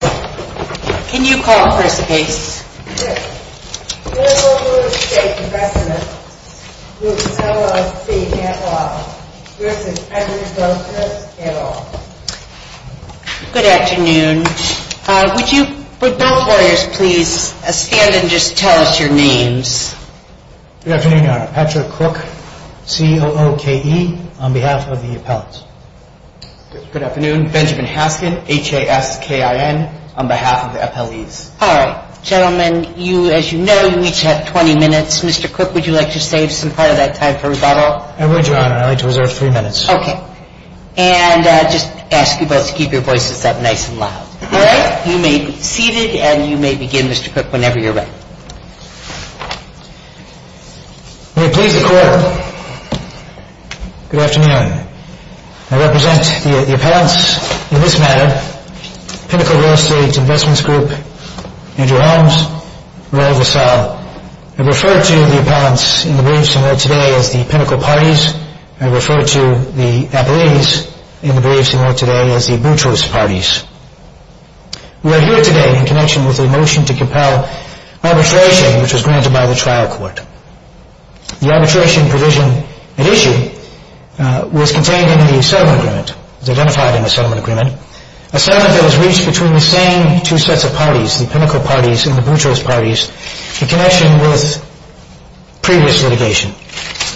Can you call for us, please? Yes. Pinnacle Real Estate Investments Group, LLC at Law v. Patrick Boutros at Law. Good afternoon. Would both lawyers please stand and just tell us your names? Good afternoon, Your Honor. Patrick Crook, C-O-O-K-E, on behalf of the appellants. Good afternoon. Benjamin Haskin, H-A-S-K-I-N, on behalf of the appellees. All right. Gentlemen, as you know, you each have 20 minutes. Mr. Crook, would you like to save some part of that time for rebuttal? I would, Your Honor. I'd like to reserve three minutes. Okay. And just ask you both to keep your voices up nice and loud, all right? You may be seated, and you may begin, Mr. Crook, whenever you're ready. May it please the Court, good afternoon. I represent the appellants in this matter, Pinnacle Real Estate Investments Group, Andrew Holmes, Royal Vassal. I refer to the appellants in the briefs in order today as the Pinnacle Parties. I refer to the appellees in the briefs in order today as the Boutros Parties. We are here today in connection with a motion to compel arbitration, which was granted by the trial court. The arbitration provision at issue was contained in the settlement agreement, was identified in the settlement agreement, a settlement that was reached between the same two sets of parties, the Pinnacle Parties and the Boutros Parties, in connection with previous litigation,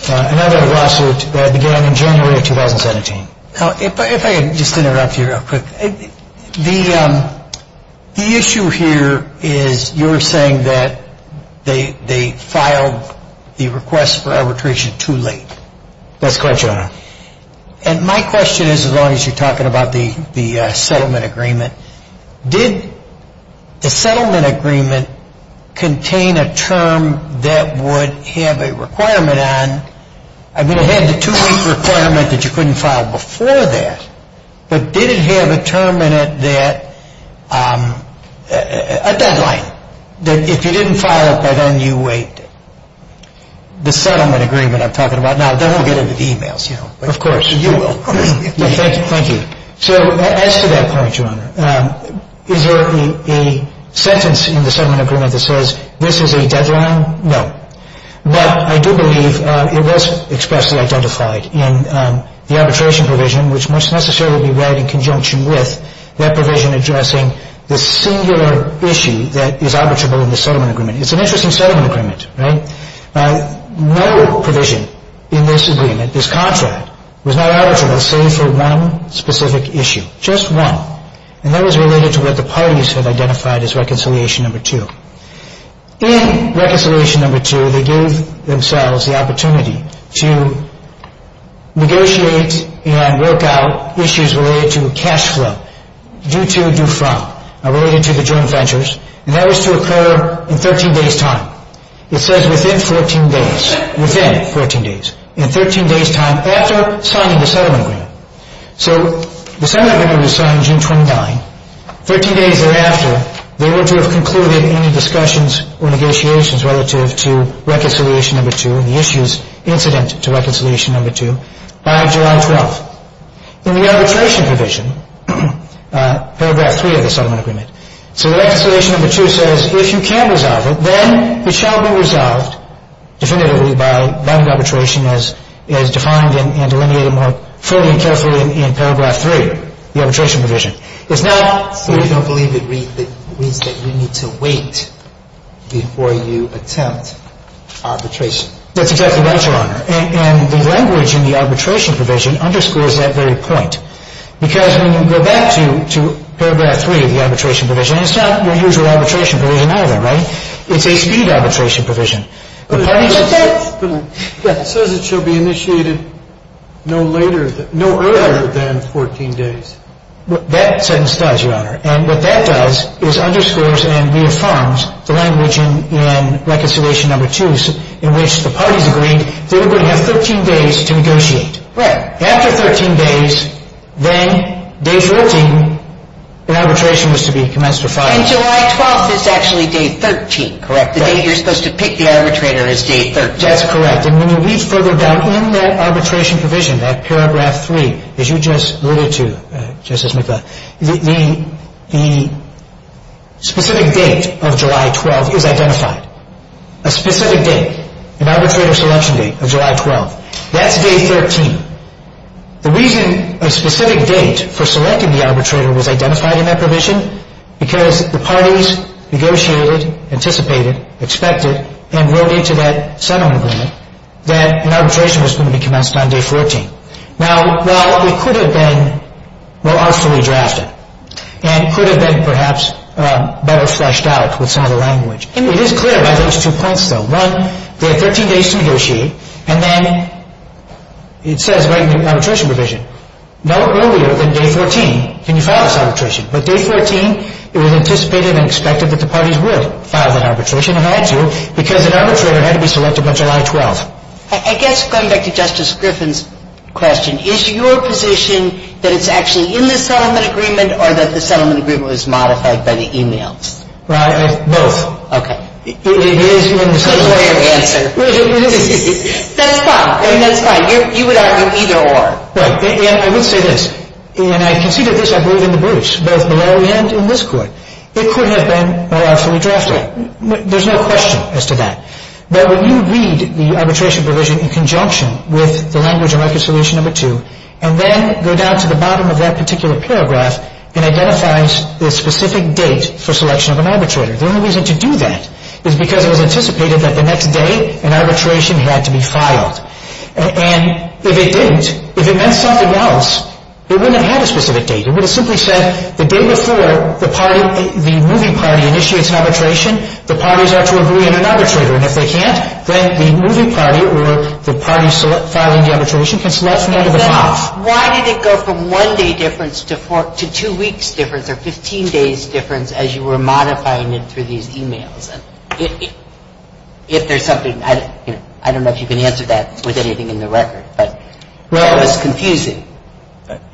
another lawsuit that began in January of 2017. If I could just interrupt you real quick. The issue here is you're saying that they filed the request for arbitration too late. That's correct, Your Honor. And my question is, as long as you're talking about the settlement agreement, did the settlement agreement contain a term that would have a requirement on – I mean, it had the two-week requirement that you couldn't file before that. But did it have a term in it that – a deadline, that if you didn't file it by then you waived it? The settlement agreement I'm talking about. Now, that won't get into the e-mails, you know. Of course. You will. Thank you. So as to that point, Your Honor, is there a sentence in the settlement agreement that says this is a deadline? No. But I do believe it was expressly identified in the arbitration provision, which must necessarily be read in conjunction with that provision addressing the singular issue that is arbitrable in the settlement agreement. It's an interesting settlement agreement, right? No provision in this agreement, this contract, was not arbitrable save for one specific issue. Just one. And that was related to what the parties had identified as reconciliation number two. In reconciliation number two, they gave themselves the opportunity to negotiate and work out issues related to cash flow, due to, due from, related to the joint ventures. And that was to occur in 13 days' time. It says within 14 days. Within 14 days. In 13 days' time after signing the settlement agreement. So the settlement agreement was signed June 29. 13 days thereafter, they were to have concluded any discussions or negotiations relative to reconciliation number two and the issues incident to reconciliation number two by July 12. In the arbitration provision, paragraph three of the settlement agreement. So reconciliation number two says if you can resolve it, then it shall be resolved definitively by binding arbitration as defined and delineated more fully and carefully in paragraph three, the arbitration provision. It's not so you don't believe it reads that you need to wait before you attempt arbitration. That's exactly right, Your Honor. And the language in the arbitration provision underscores that very point. Because when you go back to paragraph three of the arbitration provision, it's not your usual arbitration provision either, right? It's a speed arbitration provision. It says it shall be initiated no earlier than 14 days. That sentence does, Your Honor. And what that does is underscores and reaffirms the language in reconciliation number two in which the parties agreed they were going to have 13 days to negotiate. Right. After 13 days, then day 14, the arbitration was to be commenced for filing. And July 12th is actually day 13, correct? Right. So you're supposed to pick the arbitrator as day 13. That's correct. And when you read further down in that arbitration provision, that paragraph three, as you just alluded to, Justice McCloud, the specific date of July 12th is identified, a specific date, an arbitrator selection date of July 12th. That's day 13. The reason a specific date for selecting the arbitrator was identified in that provision because the parties negotiated, anticipated, expected, and wrote into that settlement agreement that an arbitration was going to be commenced on day 14. Now, while it could have been more artfully drafted and could have been perhaps better fleshed out with some of the language, it is clear by those two points, though. One, there are 13 days to negotiate, and then it says right in the arbitration provision, no earlier than day 14 can you file this arbitration. But day 14, it was anticipated and expected that the parties would file that arbitration and had to because an arbitrator had to be selected by July 12th. I guess going back to Justice Griffin's question, is your position that it's actually in the settlement agreement or that the settlement agreement was modified by the e-mails? Right. Both. Okay. It is in the settlement agreement. Good way of answering. That's fine. I mean, that's fine. You would argue either or. Right. And I would say this, and I conceded this, I believe, in the briefs, both below the end in this court. It could have been more artfully drafted. There's no question as to that. But when you read the arbitration provision in conjunction with the Language and Market Solution No. 2 and then go down to the bottom of that particular paragraph and identify the specific date for selection of an arbitrator, the only reason to do that is because it was anticipated that the next day an arbitration had to be filed. And if it didn't, if it meant something else, it wouldn't have had a specific date. It would have simply said the day before the party, the moving party, initiates an arbitration, the parties are to agree on an arbitrator. And if they can't, then the moving party or the party filing the arbitration can select from one of the files. Why did it go from one-day difference to two-weeks difference or 15-days difference as you were modifying it through these e-mails? If there's something, I don't know if you can answer that with anything in the record, but that was confusing.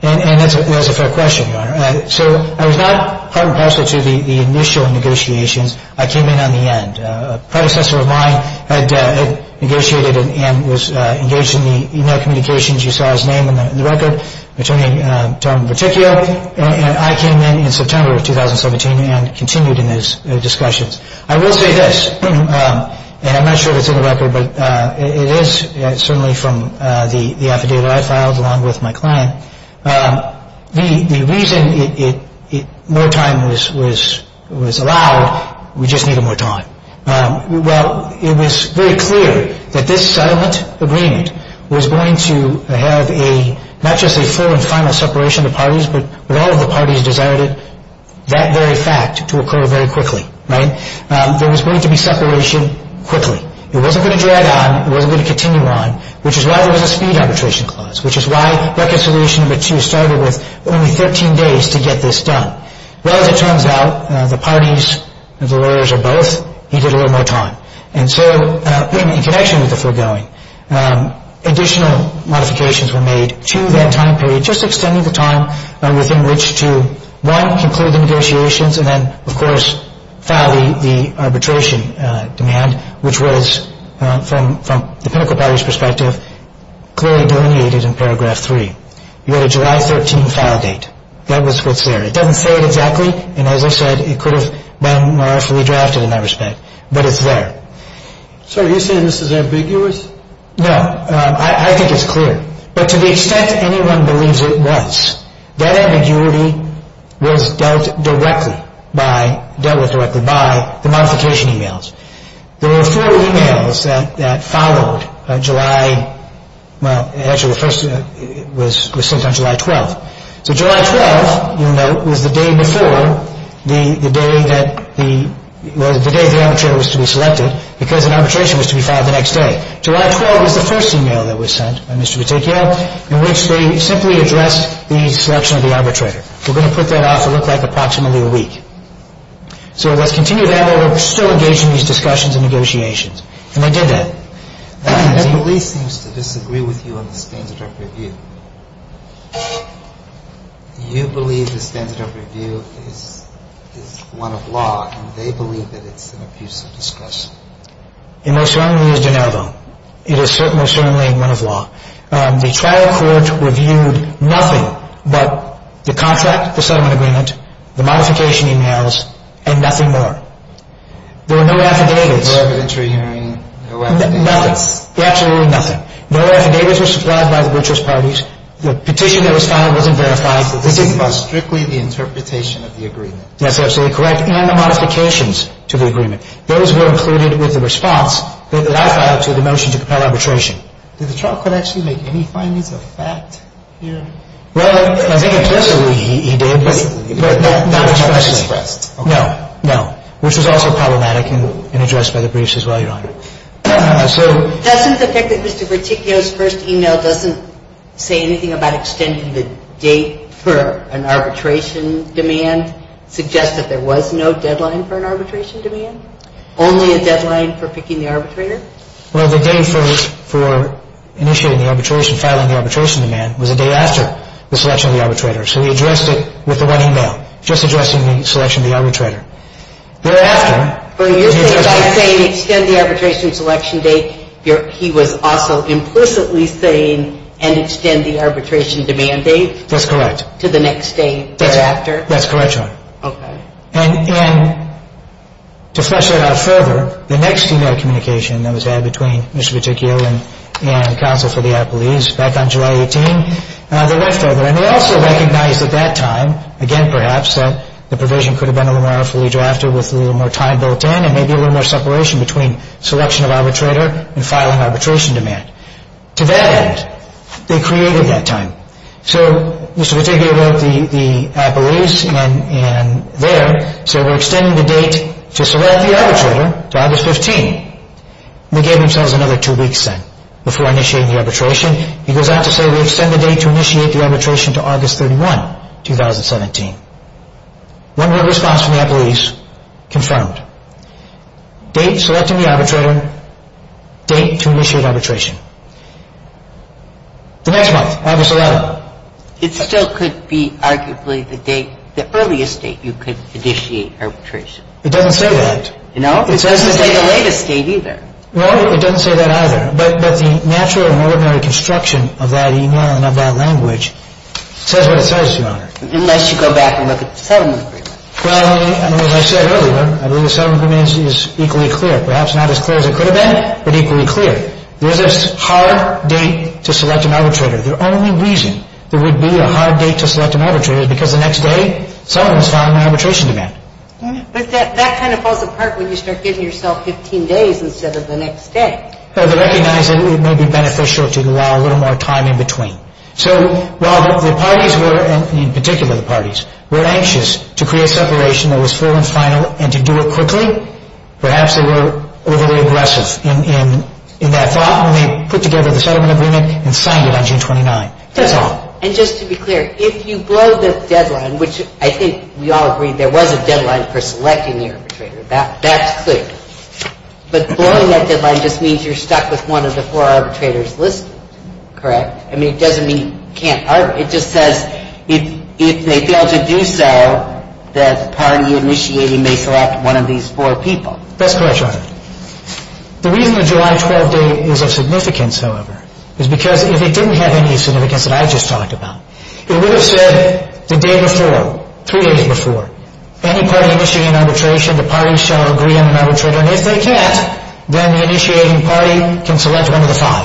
And that's a fair question, Your Honor. So I was not part and parcel to the initial negotiations. I came in on the end. A predecessor of mine had negotiated and was engaged in the e-mail communications. You saw his name in the record, Attorney Tom Berticchio. And I came in in September of 2017 and continued in those discussions. I will say this, and I'm not sure if it's in the record, but it is certainly from the affidavit I filed along with my client. The reason more time was allowed, we just needed more time. Well, it was very clear that this settlement agreement was going to have not just a full and final separation of parties, but all of the parties desired that very fact to occur very quickly, right? There was going to be separation quickly. It wasn't going to drag on. It wasn't going to continue on, which is why there was a speed arbitration clause, which is why reconciliation number two started with only 13 days to get this done. Well, as it turns out, the parties, the lawyers are both, needed a little more time. And so in connection with the foregoing, additional modifications were made to that time period, just extending the time within which to, one, conclude the negotiations, and then, of course, file the arbitration demand, which was, from the pinnacle parties' perspective, clearly delineated in paragraph three. You had a July 13th file date. That was what's there. It doesn't say it exactly, and as I said, it could have been more awfully drafted in that respect, but it's there. So are you saying this is ambiguous? No. I think it's clear. But to the extent anyone believes it was, that ambiguity was dealt with directly by the modification emails. There were four emails that followed July – well, actually, the first was sent on July 12th. So July 12th, you'll note, was the day before the day that the arbitration was to be selected, because an arbitration was to be filed the next day. July 12th was the first email that was sent by Mr. Peticchio in which they simply addressed the selection of the arbitrator. We're going to put that off. It'll look like approximately a week. So let's continue that. We're still engaged in these discussions and negotiations. And they did that. The police seems to disagree with you on the standard of review. You believe the standard of review is one of law, and they believe that it's an abuse of discretion. It most certainly is de novo. It is most certainly one of law. The trial court reviewed nothing but the contract, the settlement agreement, the modification emails, and nothing more. There were no affidavits. No evidentiary hearing. No affidavits. Nothing. Absolutely nothing. No affidavits were supplied by the brutalist parties. The petition that was filed wasn't verified. That's absolutely correct, and the modifications to the agreement. Those were included with the response that I filed to the motion to compel arbitration. Did the trial court actually make any findings of fact here? Well, I think in principle he did, but not expressly. Not expressly expressed. No, no, which was also problematic and addressed by the briefs as well, Your Honor. Hasn't the fact that Mr. Peticchio's first email doesn't say anything about extending the date for an arbitration demand suggest that there was no deadline for an arbitration demand? Only a deadline for picking the arbitrator? Well, the day for initiating the arbitration, filing the arbitration demand, was the day after the selection of the arbitrator. So he addressed it with the one email, just addressing the selection of the arbitrator. Thereafter... Well, you're saying by saying extend the arbitration selection date, he was also implicitly saying, and extend the arbitration demand date... That's correct. ...to the next day thereafter. That's correct, Your Honor. Okay. And to flesh that out further, the next email communication that was had between Mr. Peticchio and counsel for the appellees back on July 18, they left over. And they also recognized at that time, again perhaps, that the provision could have been a little more fully drafted with a little more time built in and maybe a little more separation between selection of arbitrator and filing arbitration demand. To that end, they created that time. So Mr. Peticchio wrote the appellees and there said, we're extending the date to select the arbitrator to August 15. And they gave themselves another two weeks then before initiating the arbitration. He goes on to say, we extend the date to initiate the arbitration to August 31, 2017. One word response from the appellees confirmed. Date selecting the arbitrator, date to initiate arbitration. The next month, August 11. It still could be arguably the date, the earliest date you could initiate arbitration. It doesn't say that. No, it doesn't say the latest date either. No, it doesn't say that either. But the natural and ordinary construction of that email and of that language says what it says, Your Honor. Unless you go back and look at the settlement agreement. Well, as I said earlier, I believe the settlement agreement is equally clear. Perhaps not as clear as it could have been, but equally clear. There's a hard date to select an arbitrator. The only reason there would be a hard date to select an arbitrator is because the next day someone is filing an arbitration demand. But that kind of falls apart when you start giving yourself 15 days instead of the next day. Well, they recognize that it may be beneficial to allow a little more time in between. So while the parties were, in particular the parties, were anxious to create separation that was full and final and to do it quickly, perhaps they were overly aggressive in that thought when they put together the settlement agreement and signed it on June 29. That's all. And just to be clear, if you blow the deadline, which I think we all agree there was a deadline for selecting the arbitrator. That's clear. But blowing that deadline just means you're stuck with one of the four arbitrators listed, correct? I mean, it doesn't mean you can't arbitrate. It just says if they fail to do so, the party initiating may select one of these four people. That's correct, Your Honor. The reason the July 12 date is of significance, however, is because if it didn't have any significance that I just talked about, it would have said the day before, three days before, any party initiating an arbitration, the parties shall agree on an arbitrator. And if they can't, then the initiating party can select one of the five.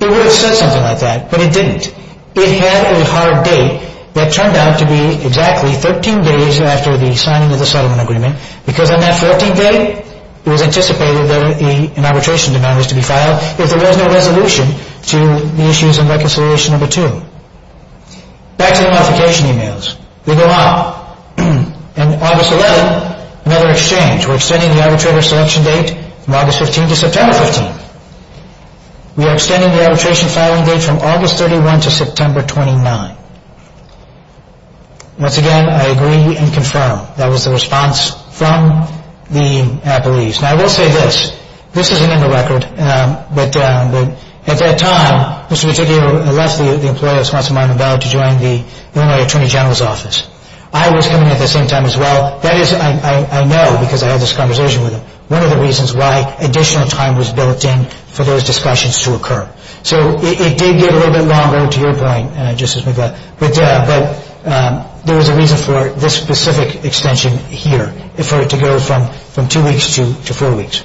It would have said something like that, but it didn't. It had a hard date that turned out to be exactly 13 days after the signing of the settlement agreement, because on that 14th day, it was anticipated that an arbitration demand was to be filed, if there was no resolution to the issues in Reconciliation No. 2. Back to the modification emails. They go out. And August 11, another exchange. We're extending the arbitrator selection date from August 15 to September 15. We are extending the arbitration filing date from August 31 to September 29. Once again, I agree and confirm. That was the response from the appellees. Now, I will say this. This isn't in the record, but at that time, Mr. Peticchio left the employee of the Sponsor of Minor Value to join the Illinois Attorney General's office. I was coming at the same time as well. That is, I know, because I had this conversation with him, one of the reasons why additional time was built in for those discussions to occur. So it did get a little bit longer, to your point, Justice McGaugh. But there was a reason for this specific extension here, for it to go from two weeks to four weeks.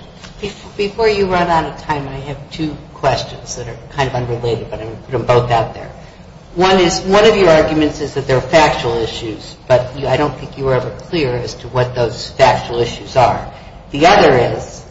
Before you run out of time, I have two questions that are kind of unrelated, but I'm going to put them both out there. One is, one of your arguments is that there are factual issues, but I don't think you were ever clear as to what those factual issues are. The other is,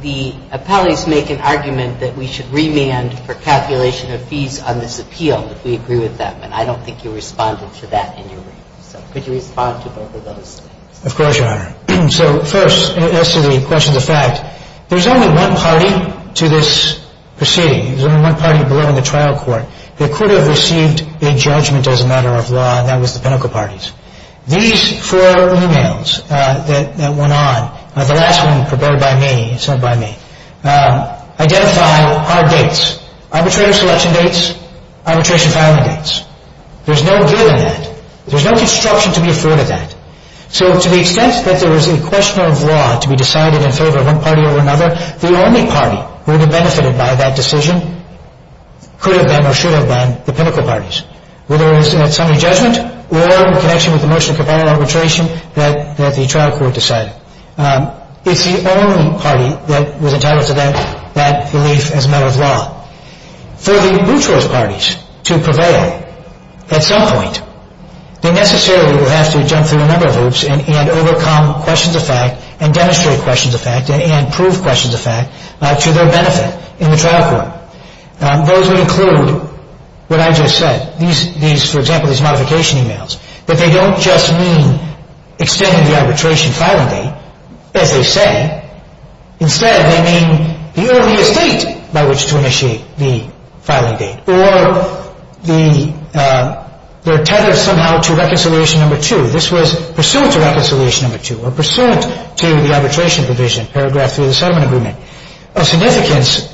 the appellees make an argument that we should remand for calculation of fees on this appeal if we agree with them, and I don't think you responded to that in your brief. So could you respond to both of those? Of course, Your Honor. So first, as to the question of the fact, there's only one party to this proceeding. There's only one party below in the trial court. They could have received a judgment as a matter of law, and that was the pinnacle parties. These four emails that went on, the last one purported by me, it's not by me, identify hard dates. Arbitrator selection dates, arbitration filing dates. There's no good in that. There's no construction to be afforded that. So to the extent that there was a question of law to be decided in favor of one party or another, the only party who would have benefited by that decision could have been or should have been the pinnacle parties, whether it was at summary judgment or in connection with the motion of capital arbitration that the trial court decided. It's the only party that was entitled to that belief as a matter of law. For the brute force parties to prevail at some point, they necessarily would have to jump through a number of hoops and overcome questions of fact and demonstrate questions of fact and prove questions of fact to their benefit in the trial court. Those would include what I just said, for example, these modification emails. But they don't just mean extending the arbitration filing date, as they say. Instead, they mean the earliest date by which to initiate the filing date or they're tethered somehow to reconciliation number two. This was pursuant to reconciliation number two or pursuant to the arbitration provision, paragraph three of the settlement agreement. Of significance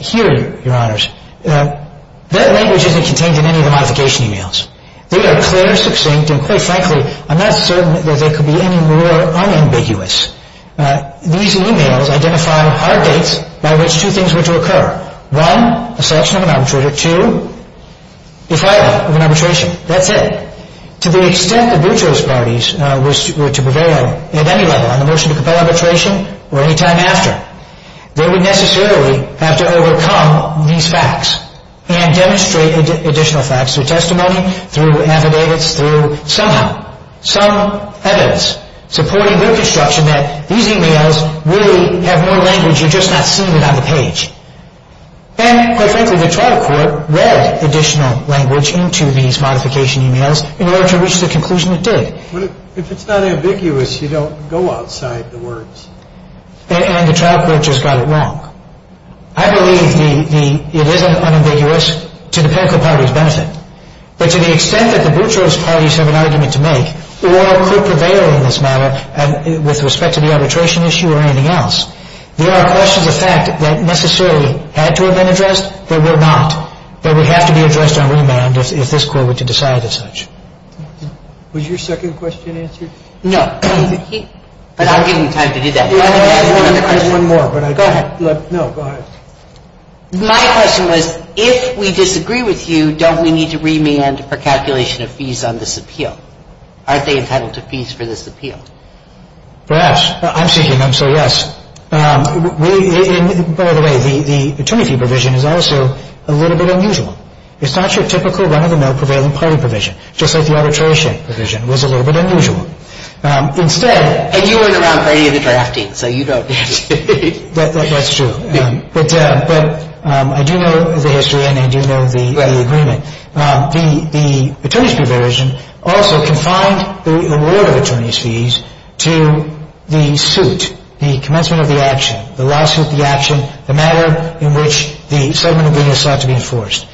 here, Your Honors, that language isn't contained in any of the modification emails. They are clear, succinct, and quite frankly, I'm not certain that they could be any more unambiguous. These emails identify hard dates by which two things were to occur. One, a selection of an arbitrator. Two, the filing of an arbitration. That's it. To the extent that Buttrell's parties were to prevail at any level on the motion to compel arbitration or any time after, they would necessarily have to overcome these facts and demonstrate additional facts through testimony, through affidavits, through somehow some evidence supporting their construction that these emails really have more language. You're just not seeing it on the page. And quite frankly, the trial court read additional language into these modification emails in order to reach the conclusion it did. But if it's not ambiguous, you don't go outside the words. And the trial court just got it wrong. I believe it isn't unambiguous to the parochial party's benefit. But to the extent that the Buttrell's parties have an argument to make or could prevail in this matter with respect to the arbitration issue or anything else, there are questions of fact that necessarily had to have been addressed but were not, that would have to be addressed on remand if this court were to decide as such. Was your second question answered? No. But I'm giving you time to do that. I have one more. Go ahead. No, go ahead. My question was, if we disagree with you, don't we need to remand for calculation of fees on this appeal? Aren't they entitled to fees for this appeal? Perhaps. I'm seeking them, so yes. By the way, the attorney fee provision is also a little bit unusual. It's not your typical run-of-the-mill prevailing party provision, just like the arbitration provision was a little bit unusual. Instead- And you weren't around for any of the drafting, so you don't- That's true. But I do know the history and I do know the agreement. The attorney's fee provision also confined the award of attorney's fees to the suit, the commencement of the action, the lawsuit, the action, the matter in which the settlement agreement sought to be enforced.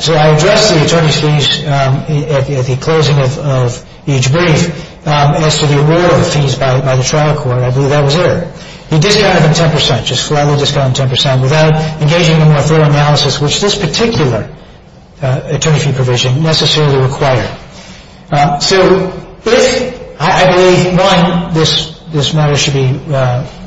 So I addressed the attorney's fees at the closing of each brief as to the award of fees by the trial court. I believe that was there. He discounted them 10 percent, just flatly discounted them 10 percent, without engaging in a more thorough analysis, which this particular attorney fee provision necessarily required. So if- I believe, one, this matter should be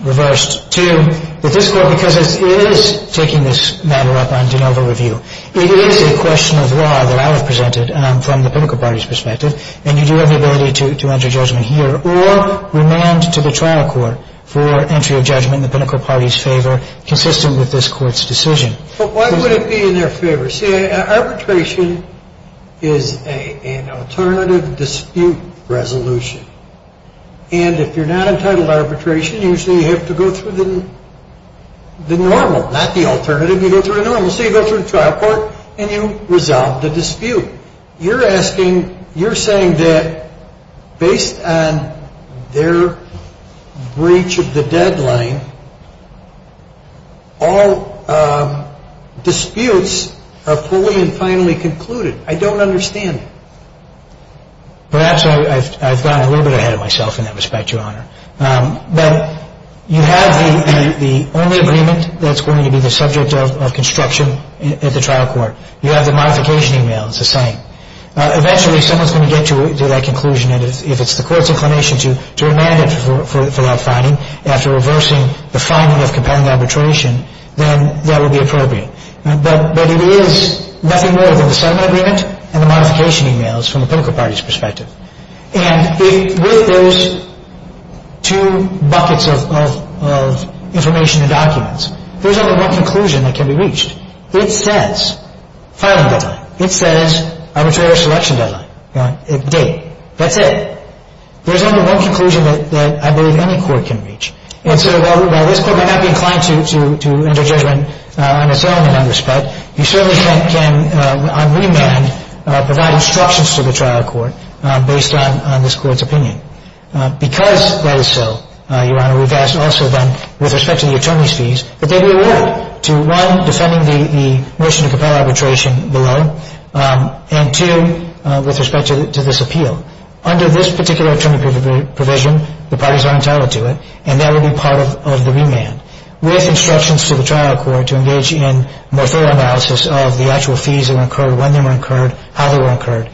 reversed, two, that this court, because it is taking this matter up on de novo review, it is a question of law that I would have presented from the political party's perspective, and you do have the ability to enter judgment here, or remand to the trial court for entry of judgment in the political party's favor, consistent with this court's decision. But why would it be in their favor? See, arbitration is an alternative dispute resolution. And if you're not entitled to arbitration, usually you have to go through the normal, not the alternative, you go through the normal. So you go through the trial court and you resolve the dispute. You're asking- you're saying that based on their breach of the deadline, all disputes are fully and finally concluded. I don't understand it. Perhaps I've gone a little bit ahead of myself in that respect, Your Honor. But you have the only agreement that's going to be the subject of construction at the trial court. You have the modification email. It's the same. Eventually someone's going to get to that conclusion, and if it's the court's inclination to remand it for that finding, after reversing the finding of compelling arbitration, then that would be appropriate. But it is nothing more than the settlement agreement and the modification emails from the political party's perspective. And with those two buckets of information and documents, there's only one conclusion that can be reached. It says filing deadline. It says arbitration selection deadline, date. That's it. There's only one conclusion that I believe any court can reach. And so while this court may not be inclined to enter judgment on its own, in that respect, you certainly can, on remand, provide instructions to the trial court based on this court's opinion. Because that is so, Your Honor, we've also done, with respect to the attorney's fees, that they be awarded to, one, defending the motion to compel arbitration below, and, two, with respect to this appeal. Under this particular attorney provision, the parties are entitled to it, and that will be part of the remand, with instructions to the trial court to engage in more thorough analysis of the actual fees that were incurred, when they were incurred, how they were incurred,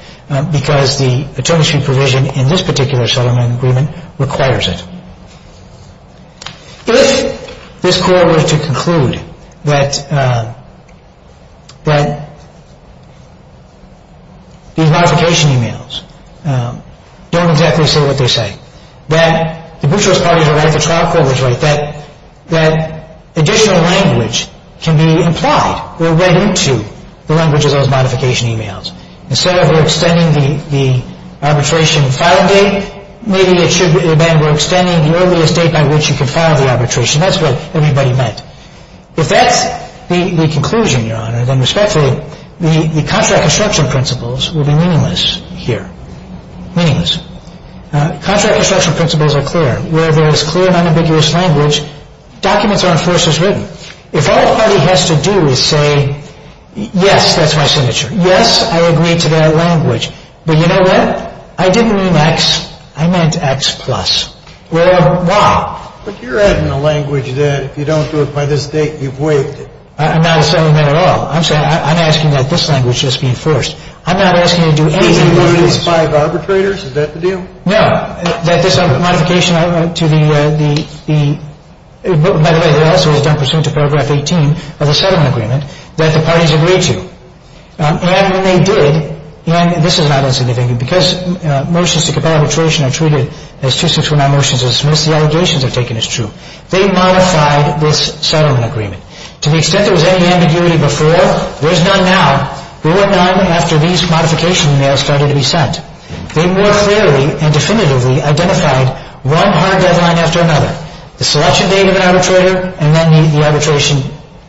because the attorney's fee provision in this particular settlement agreement requires it. If this court were to conclude that these modification emails don't exactly say what they say, that the butchers' parties are right, the trial court is right, that additional language can be implied or read into the language of those modification emails. Instead of extending the arbitration filing date, maybe it should have been we're extending the earliest date by which you can file the arbitration. That's what everybody meant. If that's the conclusion, Your Honor, then, respectfully, the contract construction principles will be meaningless here. Meaningless. Contract construction principles are clear. Where there is clear and unambiguous language, documents are, of course, as written. If all a party has to do is say, yes, that's my signature, yes, I agree to that language, but you know what? I didn't mean X. I meant X plus. Well, why? But you're adding a language that if you don't do it by this date, you've waived it. I'm not asserting that at all. I'm saying I'm asking that this language just be enforced. I'm not asking you to do any of these things. These five arbitrators, is that the deal? No. That this modification to the, by the way, it also was done pursuant to paragraph 18 of the settlement agreement that the parties agreed to. And when they did, and this is not insignificant, because motions to compel arbitration are treated as two, six, four, nine motions to dismiss, the allegations are taken as true. They modified this settlement agreement. To the extent there was any ambiguity before, there's none now. There were none after these modification emails started to be sent. They more clearly and definitively identified one hard deadline after another, the selection date of an arbitrator, and then the arbitration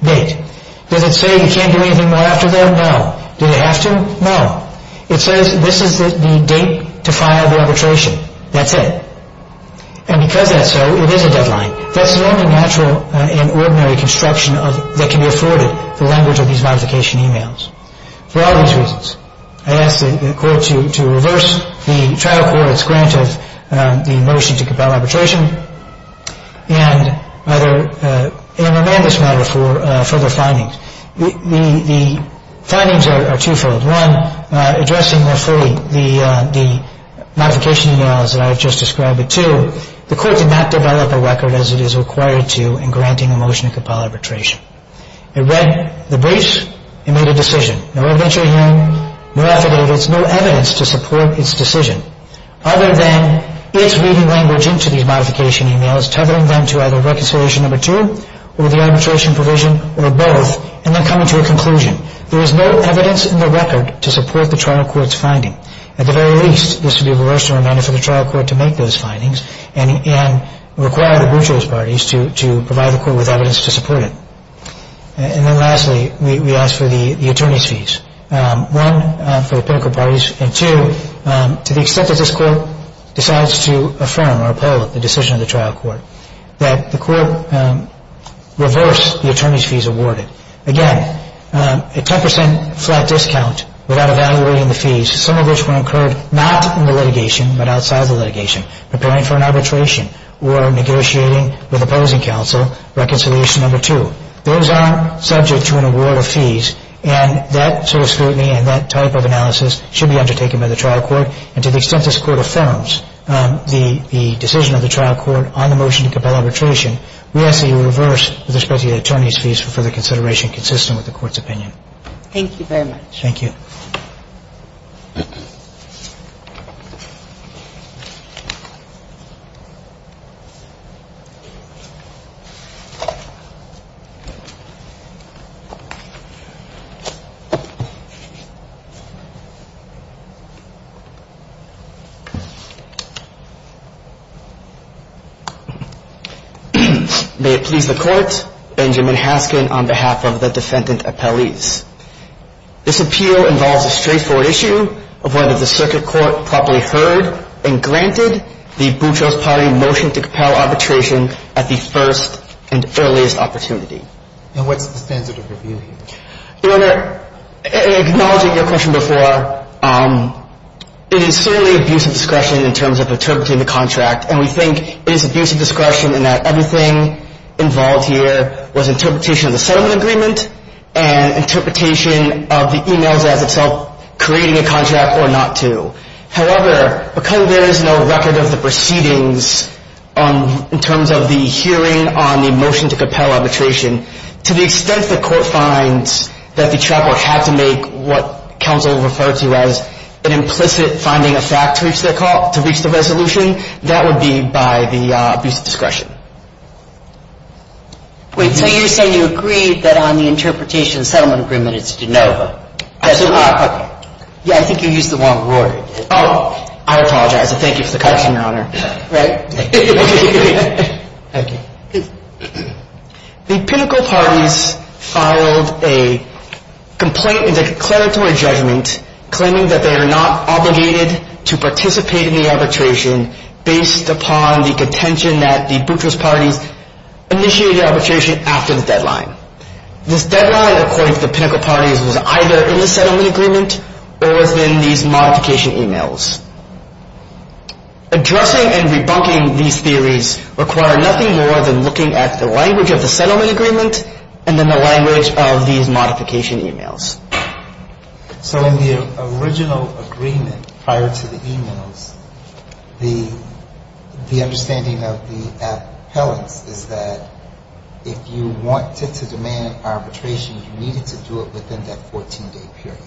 date. Does it say you can't do anything more after that? No. Do they have to? No. It says this is the date to file the arbitration. That's it. And because that's so, it is a deadline. That's the only natural and ordinary construction that can be afforded, the language of these modification emails. For all these reasons, I ask the court to reverse the trial court's grant of the motion to compel arbitration and amend this matter for further findings. The findings are twofold. One, addressing more fully the modification emails that I have just described, but two, the court did not develop a record as it is required to in granting a motion to compel arbitration. It read the briefs. It made a decision. No evidentiary hearing, no affidavits, no evidence to support its decision. Other than its reading language into these modification emails, targeting them to either reconciliation number two or the arbitration provision or both, and then coming to a conclusion. There is no evidence in the record to support the trial court's finding. At the very least, this would be of a worse manner for the trial court to make those findings and require the Boutreau's parties to provide the court with evidence to support it. And then lastly, we ask for the attorney's fees, one, for the pinnacle parties, and two, to the extent that this court decides to affirm or uphold the decision of the trial court, that the court reverse the attorney's fees awarded. Again, a 10% flat discount without evaluating the fees, some of which were incurred not in the litigation but outside the litigation, preparing for an arbitration or negotiating with opposing counsel reconciliation number two. Those are subject to an award of fees, and that sort of scrutiny and that type of analysis should be undertaken by the trial court. And to the extent this court affirms the decision of the trial court on the motion to compel arbitration, we ask that you reverse with respect to the attorney's fees for further consideration consistent with the court's opinion. Thank you very much. Thank you. May it please the court, Benjamin Haskin on behalf of the defendant appellees. This appeal involves a straightforward issue of whether the circuit court properly heard and granted the Boutreau's party motion to compel arbitration at the first and earliest opportunity. And what's the standard of review here? Your Honor, acknowledging your question before, it is certainly abuse of discretion in terms of interpreting the contract, and we think it is abuse of discretion in that everything involved here was interpretation of the settlement agreement and interpretation of the e-mails as itself creating a contract or not to. However, because there is no record of the proceedings in terms of the hearing on the motion to compel arbitration, to the extent the court finds that the trial court had to make what counsel referred to as an implicit finding of fact to reach the resolution, that would be by the abuse of discretion. Wait, so you're saying you agree that on the interpretation of the settlement agreement, it's de novo? Absolutely. Yeah, I think you used the wrong word. Oh, I apologize, and thank you for the question, Your Honor. Right. Thank you. The pinnacle parties filed a complaint in the declaratory judgment claiming that they are not obligated to participate in the arbitration based upon the contention that the buttress parties initiated arbitration after the deadline. This deadline, according to the pinnacle parties, was either in the settlement agreement or within these modification e-mails. Addressing and rebunking these theories require nothing more than looking at the language of the settlement agreement and then the language of these modification e-mails. So in the original agreement prior to the e-mails, the understanding of the appellants is that if you wanted to demand arbitration, you needed to do it within that 14-day period.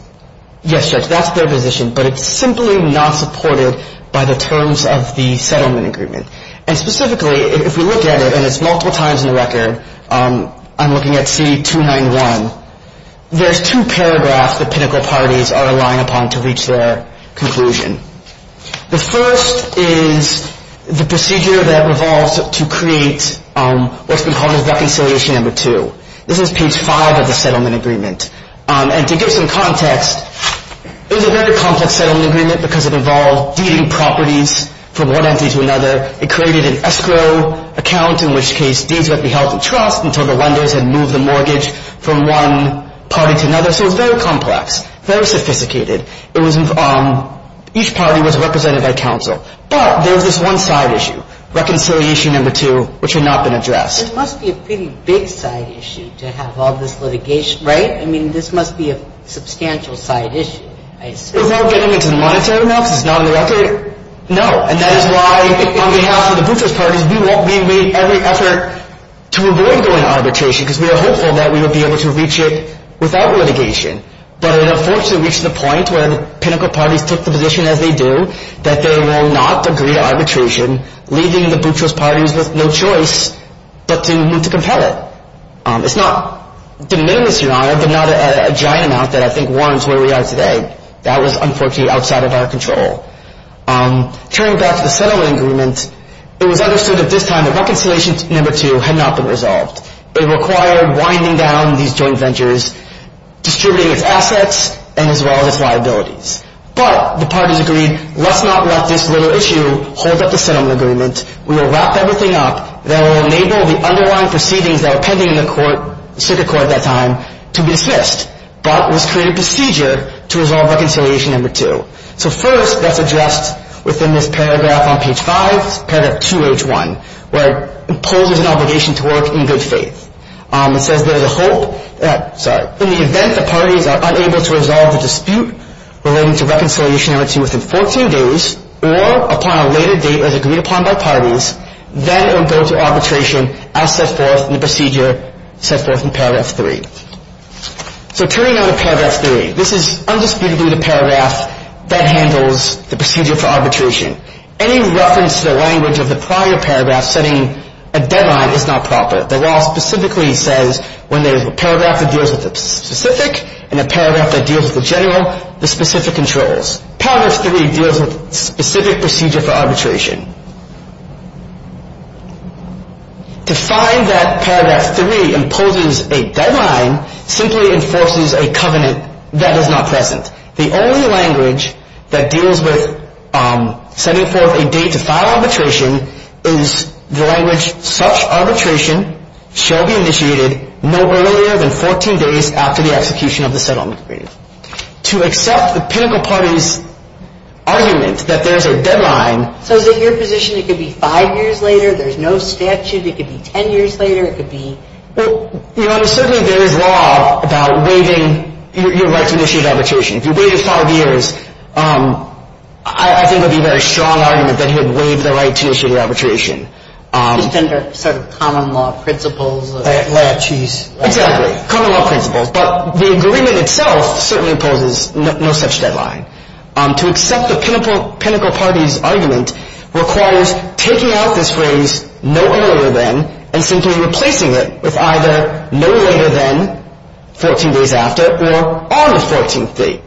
Yes, Judge, that's their position, but it's simply not supported by the terms of the settlement agreement. And specifically, if we look at it, and it's multiple times in the record, I'm looking at C-291, there's two paragraphs the pinnacle parties are relying upon to reach their conclusion. The first is the procedure that revolves to create what's been called as reconciliation number two. This is page five of the settlement agreement. And to give some context, it was a very complex settlement agreement because it involved deeding properties from one entity to another. It created an escrow account, in which case deeds would be held to trust until the lenders had moved the mortgage from one party to another. So it was very complex, very sophisticated. It was each party was represented by counsel. But there was this one side issue, reconciliation number two, which had not been addressed. It must be a pretty big side issue to have all this litigation, right? I mean, this must be a substantial side issue, I assume. Without getting into the monetary amounts, it's not in the record. No, and that is why, on behalf of the butchers parties, we made every effort to avoid going to arbitration because we were hopeful that we would be able to reach it without litigation. But it unfortunately reached the point where the pinnacle parties took the position as they do that they will not agree to arbitration, leaving the butchers parties with no choice but to move to compel it. It's not de minimis, Your Honor, but not a giant amount that I think warrants where we are today. That was unfortunately outside of our control. Turning back to the settlement agreement, it was understood at this time that reconciliation number two had not been resolved. It required winding down these joint ventures, distributing its assets, and as well as its liabilities. But the parties agreed, let's not let this little issue hold up the settlement agreement. We will wrap everything up, and that will enable the underlying proceedings that were pending in the court, circuit court at that time, to be dismissed. But this created procedure to resolve reconciliation number two. So first, that's addressed within this paragraph on page five, paragraph 2H1, where it imposes an obligation to work in good faith. It says there is a hope that, sorry, in the event the parties are unable to resolve the dispute relating to reconciliation number two within 14 days, or upon a later date as agreed upon by parties, then it will go to arbitration as set forth in the procedure set forth in paragraph 3. So turning now to paragraph 3, this is undisputably the paragraph that handles the procedure for arbitration. Any reference to the language of the prior paragraph setting a deadline is not proper. The law specifically says when there is a paragraph that deals with the specific and a paragraph that deals with the general, the specific controls. Paragraph 3 deals with specific procedure for arbitration. To find that paragraph 3 imposes a deadline simply enforces a covenant that is not present. The only language that deals with setting forth a date to file arbitration is the language, such arbitration shall be initiated no earlier than 14 days after the execution of the settlement agreement. To accept the pinnacle party's argument that there's a deadline. So is it your position it could be five years later, there's no statute, it could be 10 years later, it could be? Well, you know, there's certainly, there is law about waiving your right to initiate arbitration. If you waive it five years, I think it would be a very strong argument that he would waive the right to initiate arbitration. Under sort of common law principles. Exactly, common law principles. But the agreement itself certainly imposes no such deadline. To accept the pinnacle party's argument requires taking out this phrase no earlier than and simply replacing it with either no later than 14 days after or on the 14th date.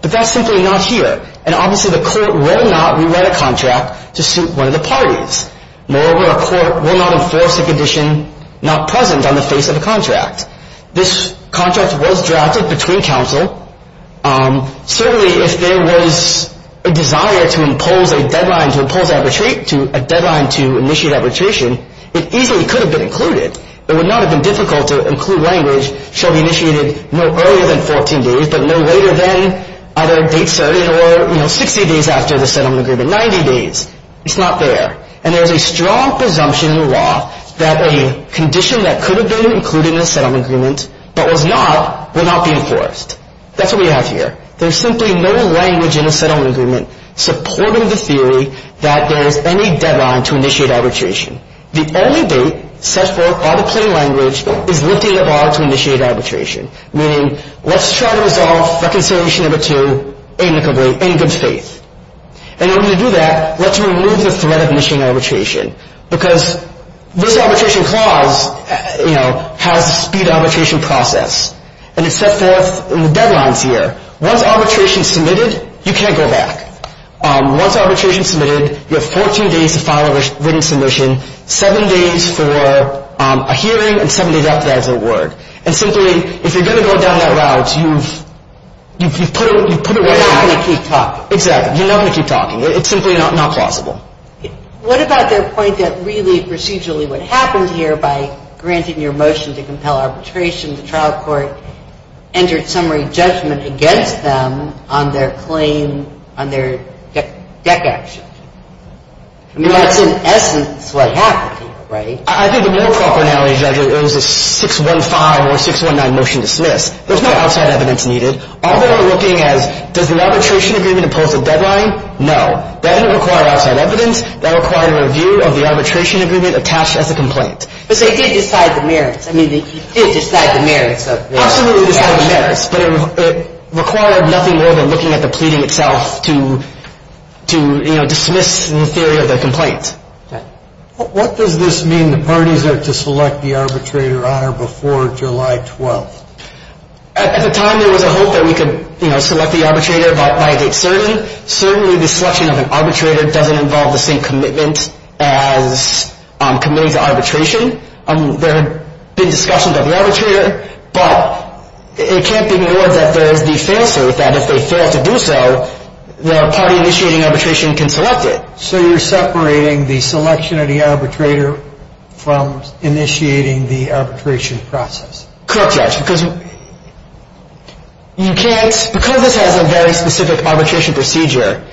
But that's simply not here. And obviously the court will not rewrite a contract to suit one of the parties. Moreover, a court will not enforce a condition not present on the face of a contract. This contract was drafted between counsel. Certainly, if there was a desire to impose a deadline to initiate arbitration, it easily could have been included. It would not have been difficult to include language shall be initiated no earlier than 14 days, but no later than either a date certain or 60 days after the settlement agreement, 90 days. It's not there. And there's a strong presumption in law that a condition that could have been included in a settlement agreement, but was not, would not be enforced. That's what we have here. There's simply no language in a settlement agreement supporting the theory that there is any deadline to initiate arbitration. The only date set forth by the plain language is lifting the bar to initiate arbitration. Meaning, let's try to resolve reconciliation number two amicably, in good faith. And in order to do that, let's remove the threat of initiating arbitration. Because this arbitration clause, you know, has a speed arbitration process. And it's set forth in the deadlines here. Once arbitration is submitted, you can't go back. Once arbitration is submitted, you have 14 days to file a written submission, seven days for a hearing, and seven days after that is a word. And simply, if you're going to go down that route, you've put it right here. You're not going to keep talking. Exactly. You're not going to keep talking. It's simply not plausible. What about their point that really procedurally what happened here by granting your motion to compel arbitration, the trial court entered summary judgment against them on their claim, on their deck action? I mean, that's in essence what happened here, right? I think the more proper analogy, Judge, is it was a 615 or 619 motion to dismiss. There's no outside evidence needed. All they're looking at is does the arbitration agreement impose a deadline? No. That didn't require outside evidence. That required a review of the arbitration agreement attached as a complaint. But they did decide the merits. I mean, they did decide the merits of the action. Absolutely decide the merits. But it required nothing more than looking at the pleading itself to, you know, dismiss the theory of the complaint. What does this mean the parties are to select the arbitrator on or before July 12th? At the time there was a hope that we could, you know, select the arbitrator by a date certain. Certainly the selection of an arbitrator doesn't involve the same commitment as committing to arbitration. There had been discussions of the arbitrator. But it can't be more that there is the fail-safe that if they fail to do so, the party initiating arbitration can select it. So you're separating the selection of the arbitrator from initiating the arbitration process. Correct, Judge, because you can't. Because this has a very specific arbitration procedure,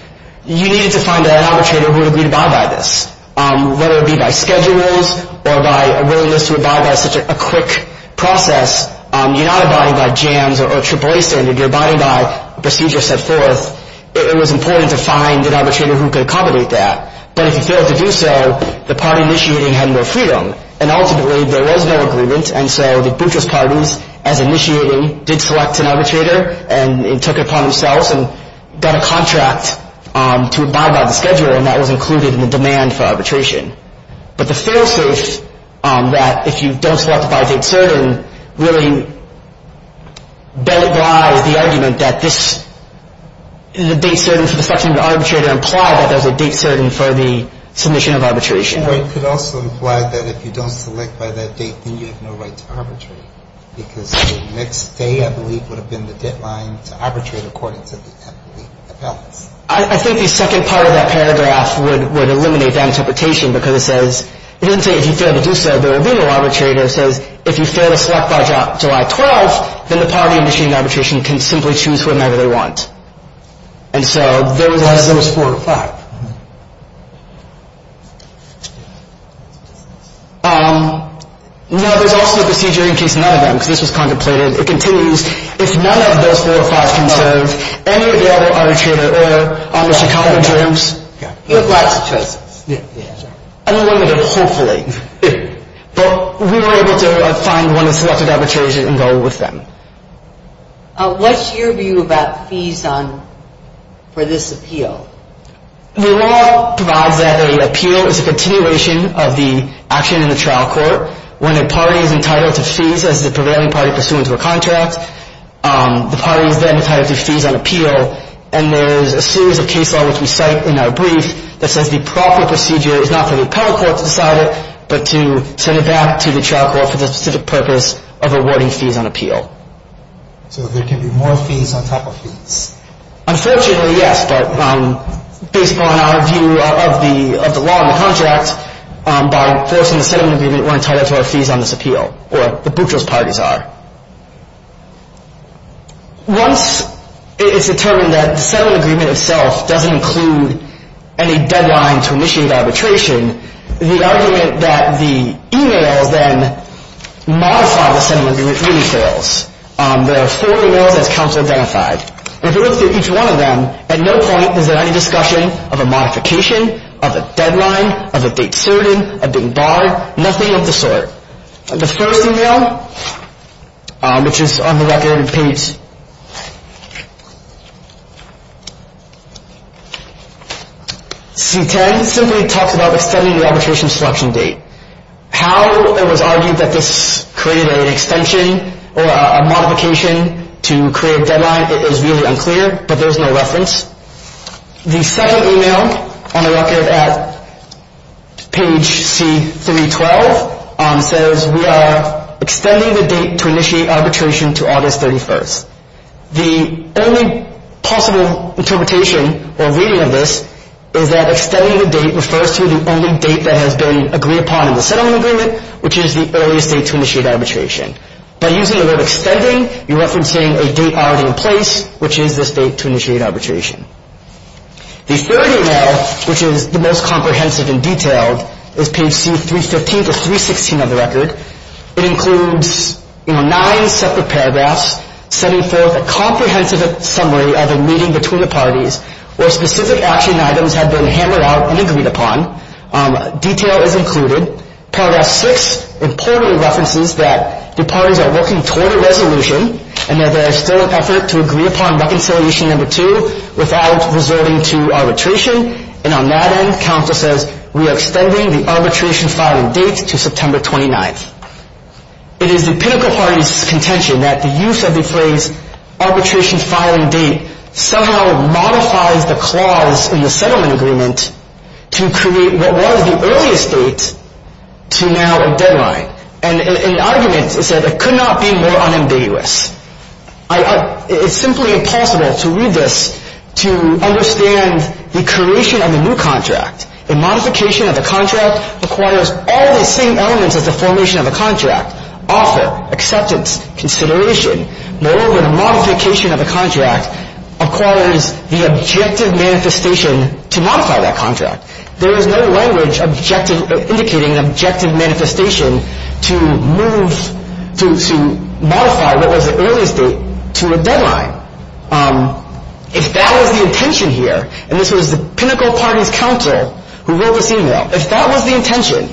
you needed to find an arbitrator who would agree to abide by this, whether it be by schedules or by a willingness to abide by such a quick process. You're not abiding by JAMS or AAA standard. You're abiding by a procedure set forth. It was important to find an arbitrator who could accommodate that. But if you failed to do so, the party initiating had more freedom. And ultimately there was no agreement, and so the butchers parties, as initiating, did select an arbitrator and took it upon themselves and got a contract to abide by the schedule, and that was included in the demand for arbitration. But the fail-safe on that, if you don't select by date certain, really belies the argument that this is a date certain for the selection of the arbitrator implied that there's a date certain for the submission of arbitration. Or it could also imply that if you don't select by that date, then you have no right to arbitrate, because the next day, I believe, would have been the deadline to arbitrate according to the appellate's. I think the second part of that paragraph would eliminate that interpretation, because it says, it doesn't say if you fail to do so, but a legal arbitrator says if you fail to select by July 12, then the party initiating arbitration can simply choose whomever they want. And so there was four or five. Now, there's also a procedure in case none of them, because this was contemplated. It continues, if none of those four or five conserved, any of the other arbitrator, or on the Chicago Tribes, you have lots of choices. Unlimited, hopefully. But we were able to find one of the selected arbitrators and go with them. What's your view about fees for this appeal? The law provides that an appeal is a continuation of the action in the trial court when a party is entitled to fees as the prevailing party pursuant to a contract. The party is then entitled to fees on appeal. And there's a series of case law, which we cite in our brief, that says the proper procedure is not for the appellate court to decide it, but to send it back to the trial court for the specific purpose of awarding fees on appeal. So there can be more fees on top of fees? Unfortunately, yes. But based upon our view of the law and the contract, by enforcing the settlement agreement, we're entitled to our fees on this appeal, or the butchers' parties are. Once it's determined that the settlement agreement itself doesn't include any deadline to initiate arbitration, the argument that the e-mails then modify the settlement agreement really fails. There are four e-mails as counsel identified. And if you look through each one of them, at no point is there any discussion of a modification, of a deadline, of a date certain, of being barred, nothing of the sort. The first e-mail, which is on the record in page C-10, simply talks about extending the arbitration selection date. How it was argued that this created an extension or a modification to create a deadline is really unclear, but there's no reference. The second e-mail, on the record at page C-312, says we are extending the date to initiate arbitration to August 31st. The only possible interpretation or reading of this is that extending the date refers to the only date that has been agreed upon in the settlement agreement, which is the earliest date to initiate arbitration. By using the word extending, you're referencing a date already in place, which is this date to initiate arbitration. The third e-mail, which is the most comprehensive and detailed, is page C-315 to 316 on the record. It includes nine separate paragraphs setting forth a comprehensive summary of a meeting between the parties where specific action items have been hammered out and agreed upon. Detail is included. Paragraph six importantly references that the parties are working toward a resolution and that there is still an effort to agree upon reconciliation number two without resorting to arbitration. And on that end, counsel says we are extending the arbitration filing date to September 29th. It is the pinnacle party's contention that the use of the phrase arbitration filing date somehow modifies the clause in the settlement agreement to create what was the earliest date to now a deadline. And the argument is that it could not be more unambiguous. It's simply impossible to read this to understand the creation of the new contract. The modification of the contract requires all the same elements as the formation of the contract, offer, acceptance, consideration. Moreover, the modification of the contract requires the objective manifestation to modify that contract. There is no language indicating an objective manifestation to modify what was the earliest date to a deadline. If that was the intention here, and this was the pinnacle party's counsel who wrote this e-mail, if that was the intention,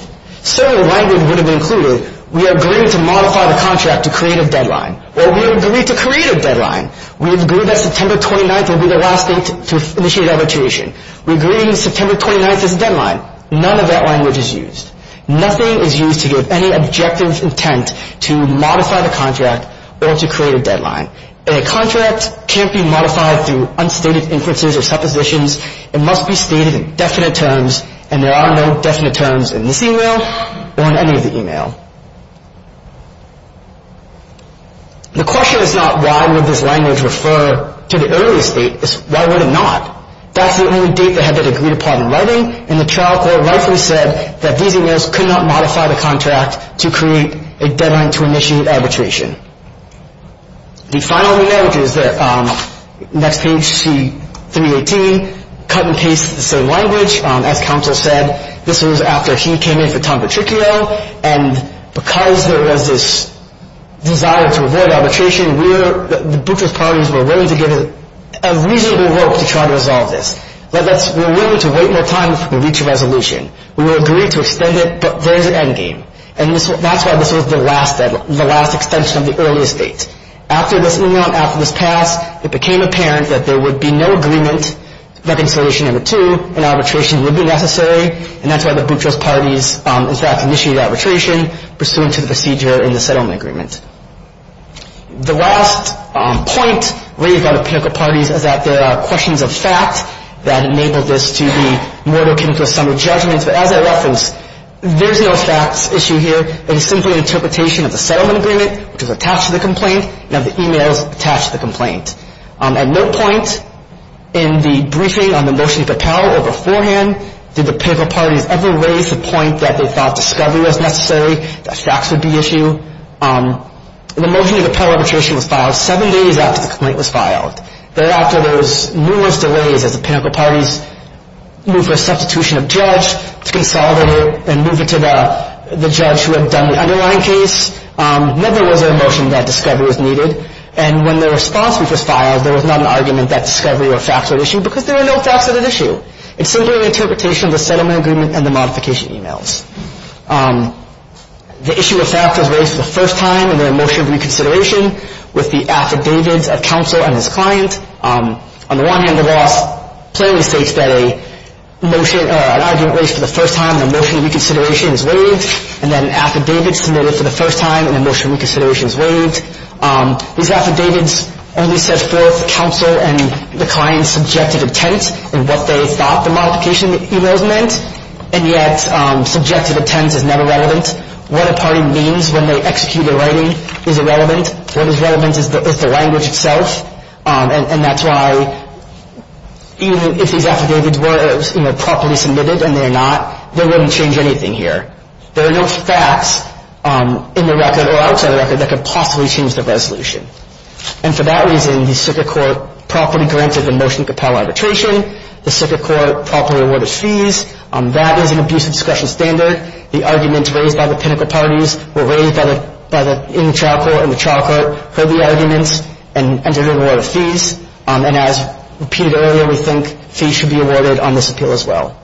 certain language would have been included. We agreed to modify the contract to create a deadline. Well, we agreed to create a deadline. We agreed that September 29th would be the last date to initiate arbitration. We agreed September 29th is a deadline. None of that language is used. Nothing is used to give any objective intent to modify the contract or to create a deadline. A contract can't be modified through unstated inferences or suppositions. It must be stated in definite terms, and there are no definite terms in this e-mail or in any of the e-mail. The question is not why would this language refer to the earliest date. It's why would it not? That's the only date they had agreed upon in writing, and the trial court rightfully said that these e-mails could not modify the contract to create a deadline to initiate arbitration. The final e-mail, which is the next page, C318, cut and pasted the same language. As counsel said, this was after he came in for Tom Petricchio, and because there was this desire to avoid arbitration, the Bucharest parties were willing to give a reasonable rope to try to resolve this. We're willing to wait more time before we reach a resolution. We will agree to extend it, but there is an endgame. And that's why this was the last extension of the earliest date. After this e-mail and after this passed, it became apparent that there would be no agreement to reconciliation number two, and arbitration would be necessary, and that's why the Bucharest parties in fact initiated arbitration pursuant to the procedure in the settlement agreement. The last point raised by the particular parties is that there are questions of fact that enabled this to be more akin to a sum of judgments. But as I referenced, there's no facts issue here. It is simply an interpretation of the settlement agreement, which is attached to the complaint, and of the e-mails attached to the complaint. At no point in the briefing on the motion to propel or beforehand did the particular parties ever raise the point that they thought discovery was necessary, that facts would be an issue. The motion to propel arbitration was filed seven days after the complaint was filed. Thereafter, there was numerous delays as the pinnacle parties moved for a substitution of judge to consolidate it and move it to the judge who had done the underlying case. Never was there a motion that discovery was needed. And when the response was filed, there was not an argument that discovery or facts were an issue because there were no facts of that issue. It's simply an interpretation of the settlement agreement and the modification e-mails. The issue of facts was raised for the first time in the motion of reconsideration with the affidavits of counsel and his client. On the one hand, the law plainly states that an argument raised for the first time in the motion of reconsideration is waived, and then affidavits submitted for the first time in the motion of reconsideration is waived. These affidavits only set forth counsel and the client's subjective intent in what they thought the modification e-mails meant, and yet subjective intent is never relevant. What a party means when they execute a writing is irrelevant. What is relevant is the language itself, and that's why even if these affidavits were properly submitted and they're not, they wouldn't change anything here. There are no facts in the record or outside the record that could possibly change the resolution. And for that reason, the circuit court properly granted the motion to compel arbitration. The circuit court properly awarded fees. That is an abuse of discretion standard. The arguments raised by the pinnacle parties were raised by the in the chapel and the trial court for the arguments and entered an award of fees. And as repeated earlier, we think fees should be awarded on this appeal as well.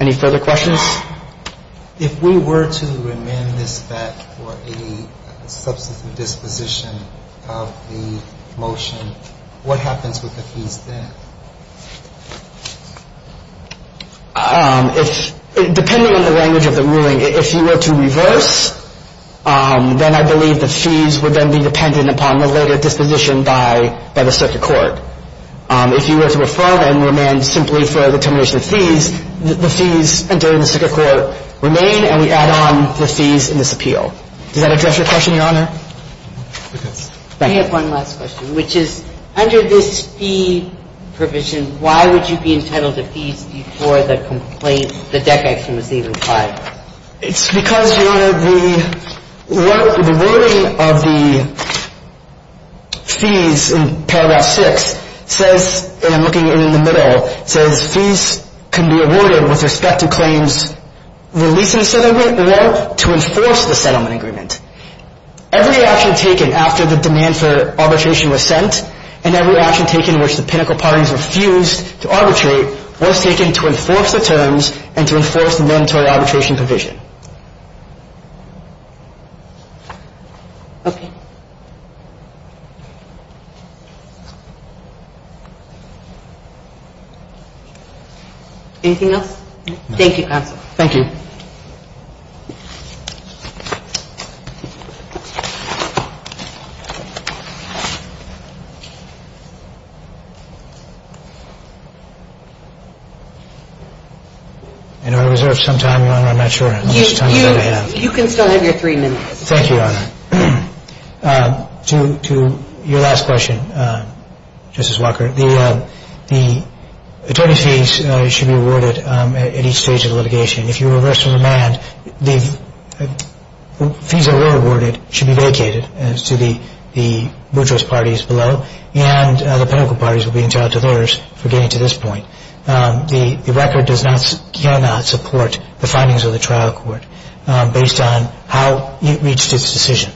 Any further questions? If we were to amend this back for a substantive disposition of the motion, what happens with the fees then? Depending on the language of the ruling, if you were to reverse, then I believe the fees would then be dependent upon the later disposition by the circuit court. If you were to affirm and amend simply for the termination of fees, the fees during the circuit court remain and we add on the fees in this appeal. Does that address your question, Your Honor? I have one last question, which is under this fee provision, why would you be entitled to fees before the complaint, the deck action was even filed? It's because, Your Honor, the wording of the fees in paragraph 6 says, and I'm looking at it in the middle, says fees can be awarded with respect to claims released in a settlement or to enforce the settlement agreement. Every action taken after the demand for arbitration was sent and every action taken in which the pinnacle parties refused to arbitrate was taken to enforce the terms and to enforce the mandatory arbitration provision. Okay. Anything else? Thank you, counsel. Thank you. I know I reserved some time, Your Honor. I'm not sure how much time I have. You can still have your three minutes. Thank you, Your Honor. To your last question, Justice Walker, the attorney fees should be awarded at each stage of the litigation. If you were to amend the fee provision, the fees that were awarded should be vacated to the brutalist parties below and the pinnacle parties will be entitled to theirs for getting to this point. The record cannot support the findings of the trial court based on how it reached its decision.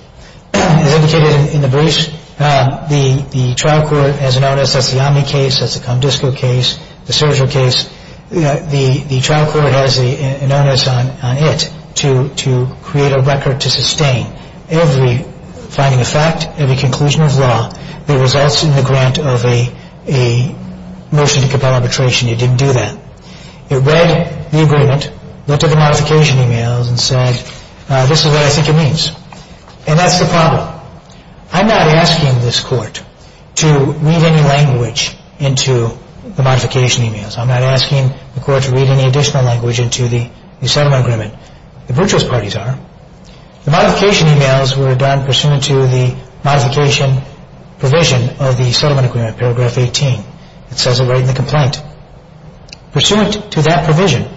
As indicated in the briefs, the trial court has an onus, that's the Omni case, that's the Comdisco case, the Sergio case. The trial court has an onus on it to create a record to sustain every finding of fact, every conclusion of law that results in the grant of a motion to compel arbitration. It didn't do that. It read the agreement, looked at the modification emails and said, this is what I think it means. And that's the problem. I'm not asking this court to read any language into the modification emails. I'm not asking the court to read any additional language into the settlement agreement. The brutalist parties are. The modification emails were done pursuant to the modification provision of the settlement agreement, paragraph 18. It says it right in the complaint. Pursuant to that provision,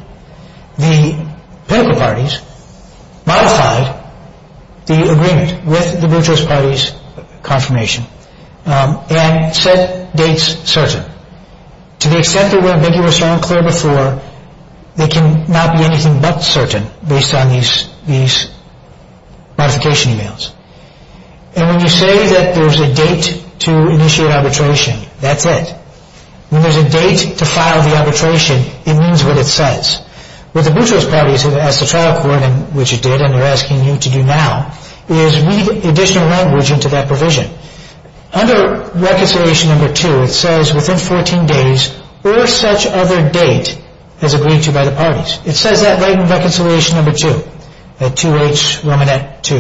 the pinnacle parties modified the agreement with the brutalist parties' confirmation and set dates certain. To the extent they were ambiguous or unclear before, they cannot be anything but certain based on these modification emails. And when you say that there's a date to initiate arbitration, that's it. When there's a date to file the arbitration, it means what it says. What the brutalist parties, as the trial court, which it did and they're asking you to do now, is read additional language into that provision. Under reconciliation number 2, it says within 14 days or such other date as agreed to by the parties. It says that right in reconciliation number 2, at 2H, Romanette 2.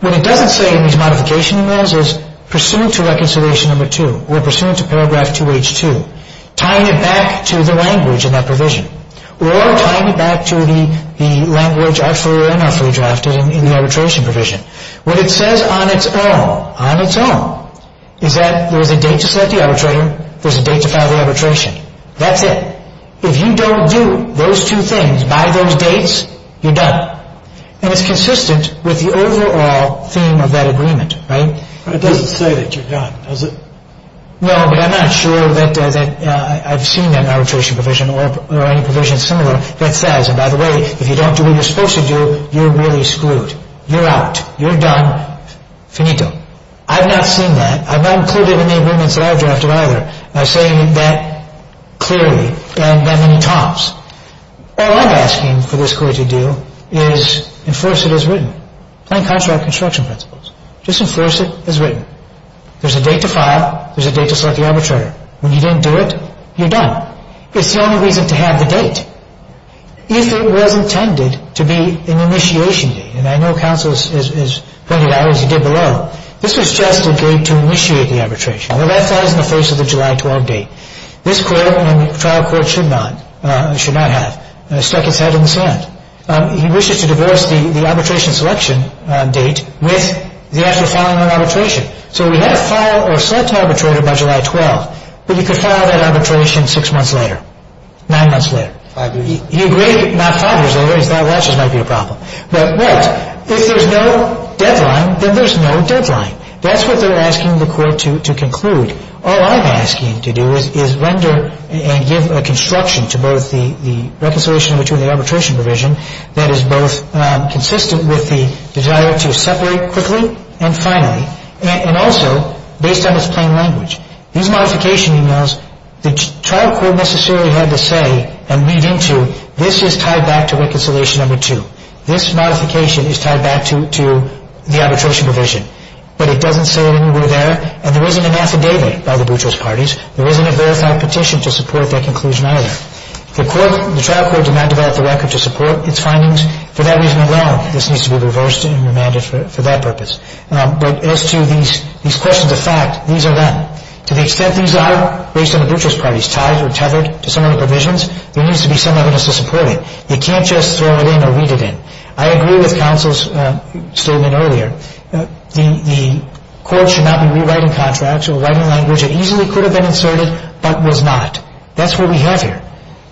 What it doesn't say in these modification emails is, pursuant to reconciliation number 2 or pursuant to paragraph 2H2, tying it back to the language in that provision or tying it back to the language artfully and unartfully drafted in the arbitration provision. What it says on its own is that there's a date to set the arbitration, there's a date to file the arbitration. That's it. If you don't do those two things by those dates, you're done. And it's consistent with the overall theme of that agreement. It doesn't say that you're done, does it? No, but I'm not sure that I've seen an arbitration provision or any provision similar that says, and by the way, if you don't do what you're supposed to do, you're really screwed. You're out. You're done. Finito. I've not seen that. I've not included it in the agreements that I've drafted either. I'm saying that clearly and then when he talks. All I'm asking for this court to do is enforce it as written. Plain contract construction principles. Just enforce it as written. There's a date to file. There's a date to select the arbitrator. When you didn't do it, you're done. It's the only reason to have the date. If it was intended to be an initiation date, and I know counsel has pointed out, as he did below, this was just a date to initiate the arbitration. Well, that falls in the face of the July 12 date. This trial court should not have stuck its head in the sand. He wishes to divorce the arbitration selection date with the actual filing of arbitration. So we had to file or select an arbitrator by July 12, but you could file that arbitration six months later, nine months later. He agreed not five years later. He thought watches might be a problem. But if there's no deadline, then there's no deadline. That's what they're asking the court to conclude. All I'm asking to do is render and give a construction to both the reconciliation between the arbitration provision that is both consistent with the desire to separate quickly and finally, and also based on its plain language. These modification emails, the trial court necessarily had to say and read into, this is tied back to reconciliation number two. This modification is tied back to the arbitration provision. But it doesn't say it anywhere there, and there isn't an affidavit by the butchers' parties. There isn't a verified petition to support that conclusion either. The trial court did not develop the record to support its findings. For that reason alone, this needs to be reversed and remanded for that purpose. But as to these questions of fact, these are them. To the extent these are based on the butchers' parties, tied or tethered to some of the provisions, there needs to be some evidence to support it. You can't just throw it in or read it in. I agree with counsel's statement earlier. The court should not be rewriting contracts or writing language that easily could have been inserted but was not. That's what we have here.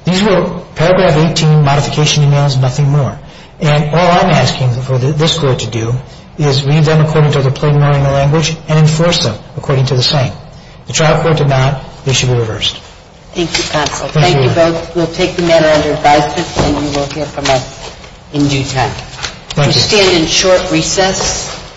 These were paragraph 18 modification emails, nothing more. And all I'm asking for this court to do is read them according to the plenary language and enforce them according to the saying. The trial court did not. They should be reversed. Thank you, counsel. Thank you both. We'll take the matter under advisement, and you will hear from us in due time. Thank you. We stand in short recess.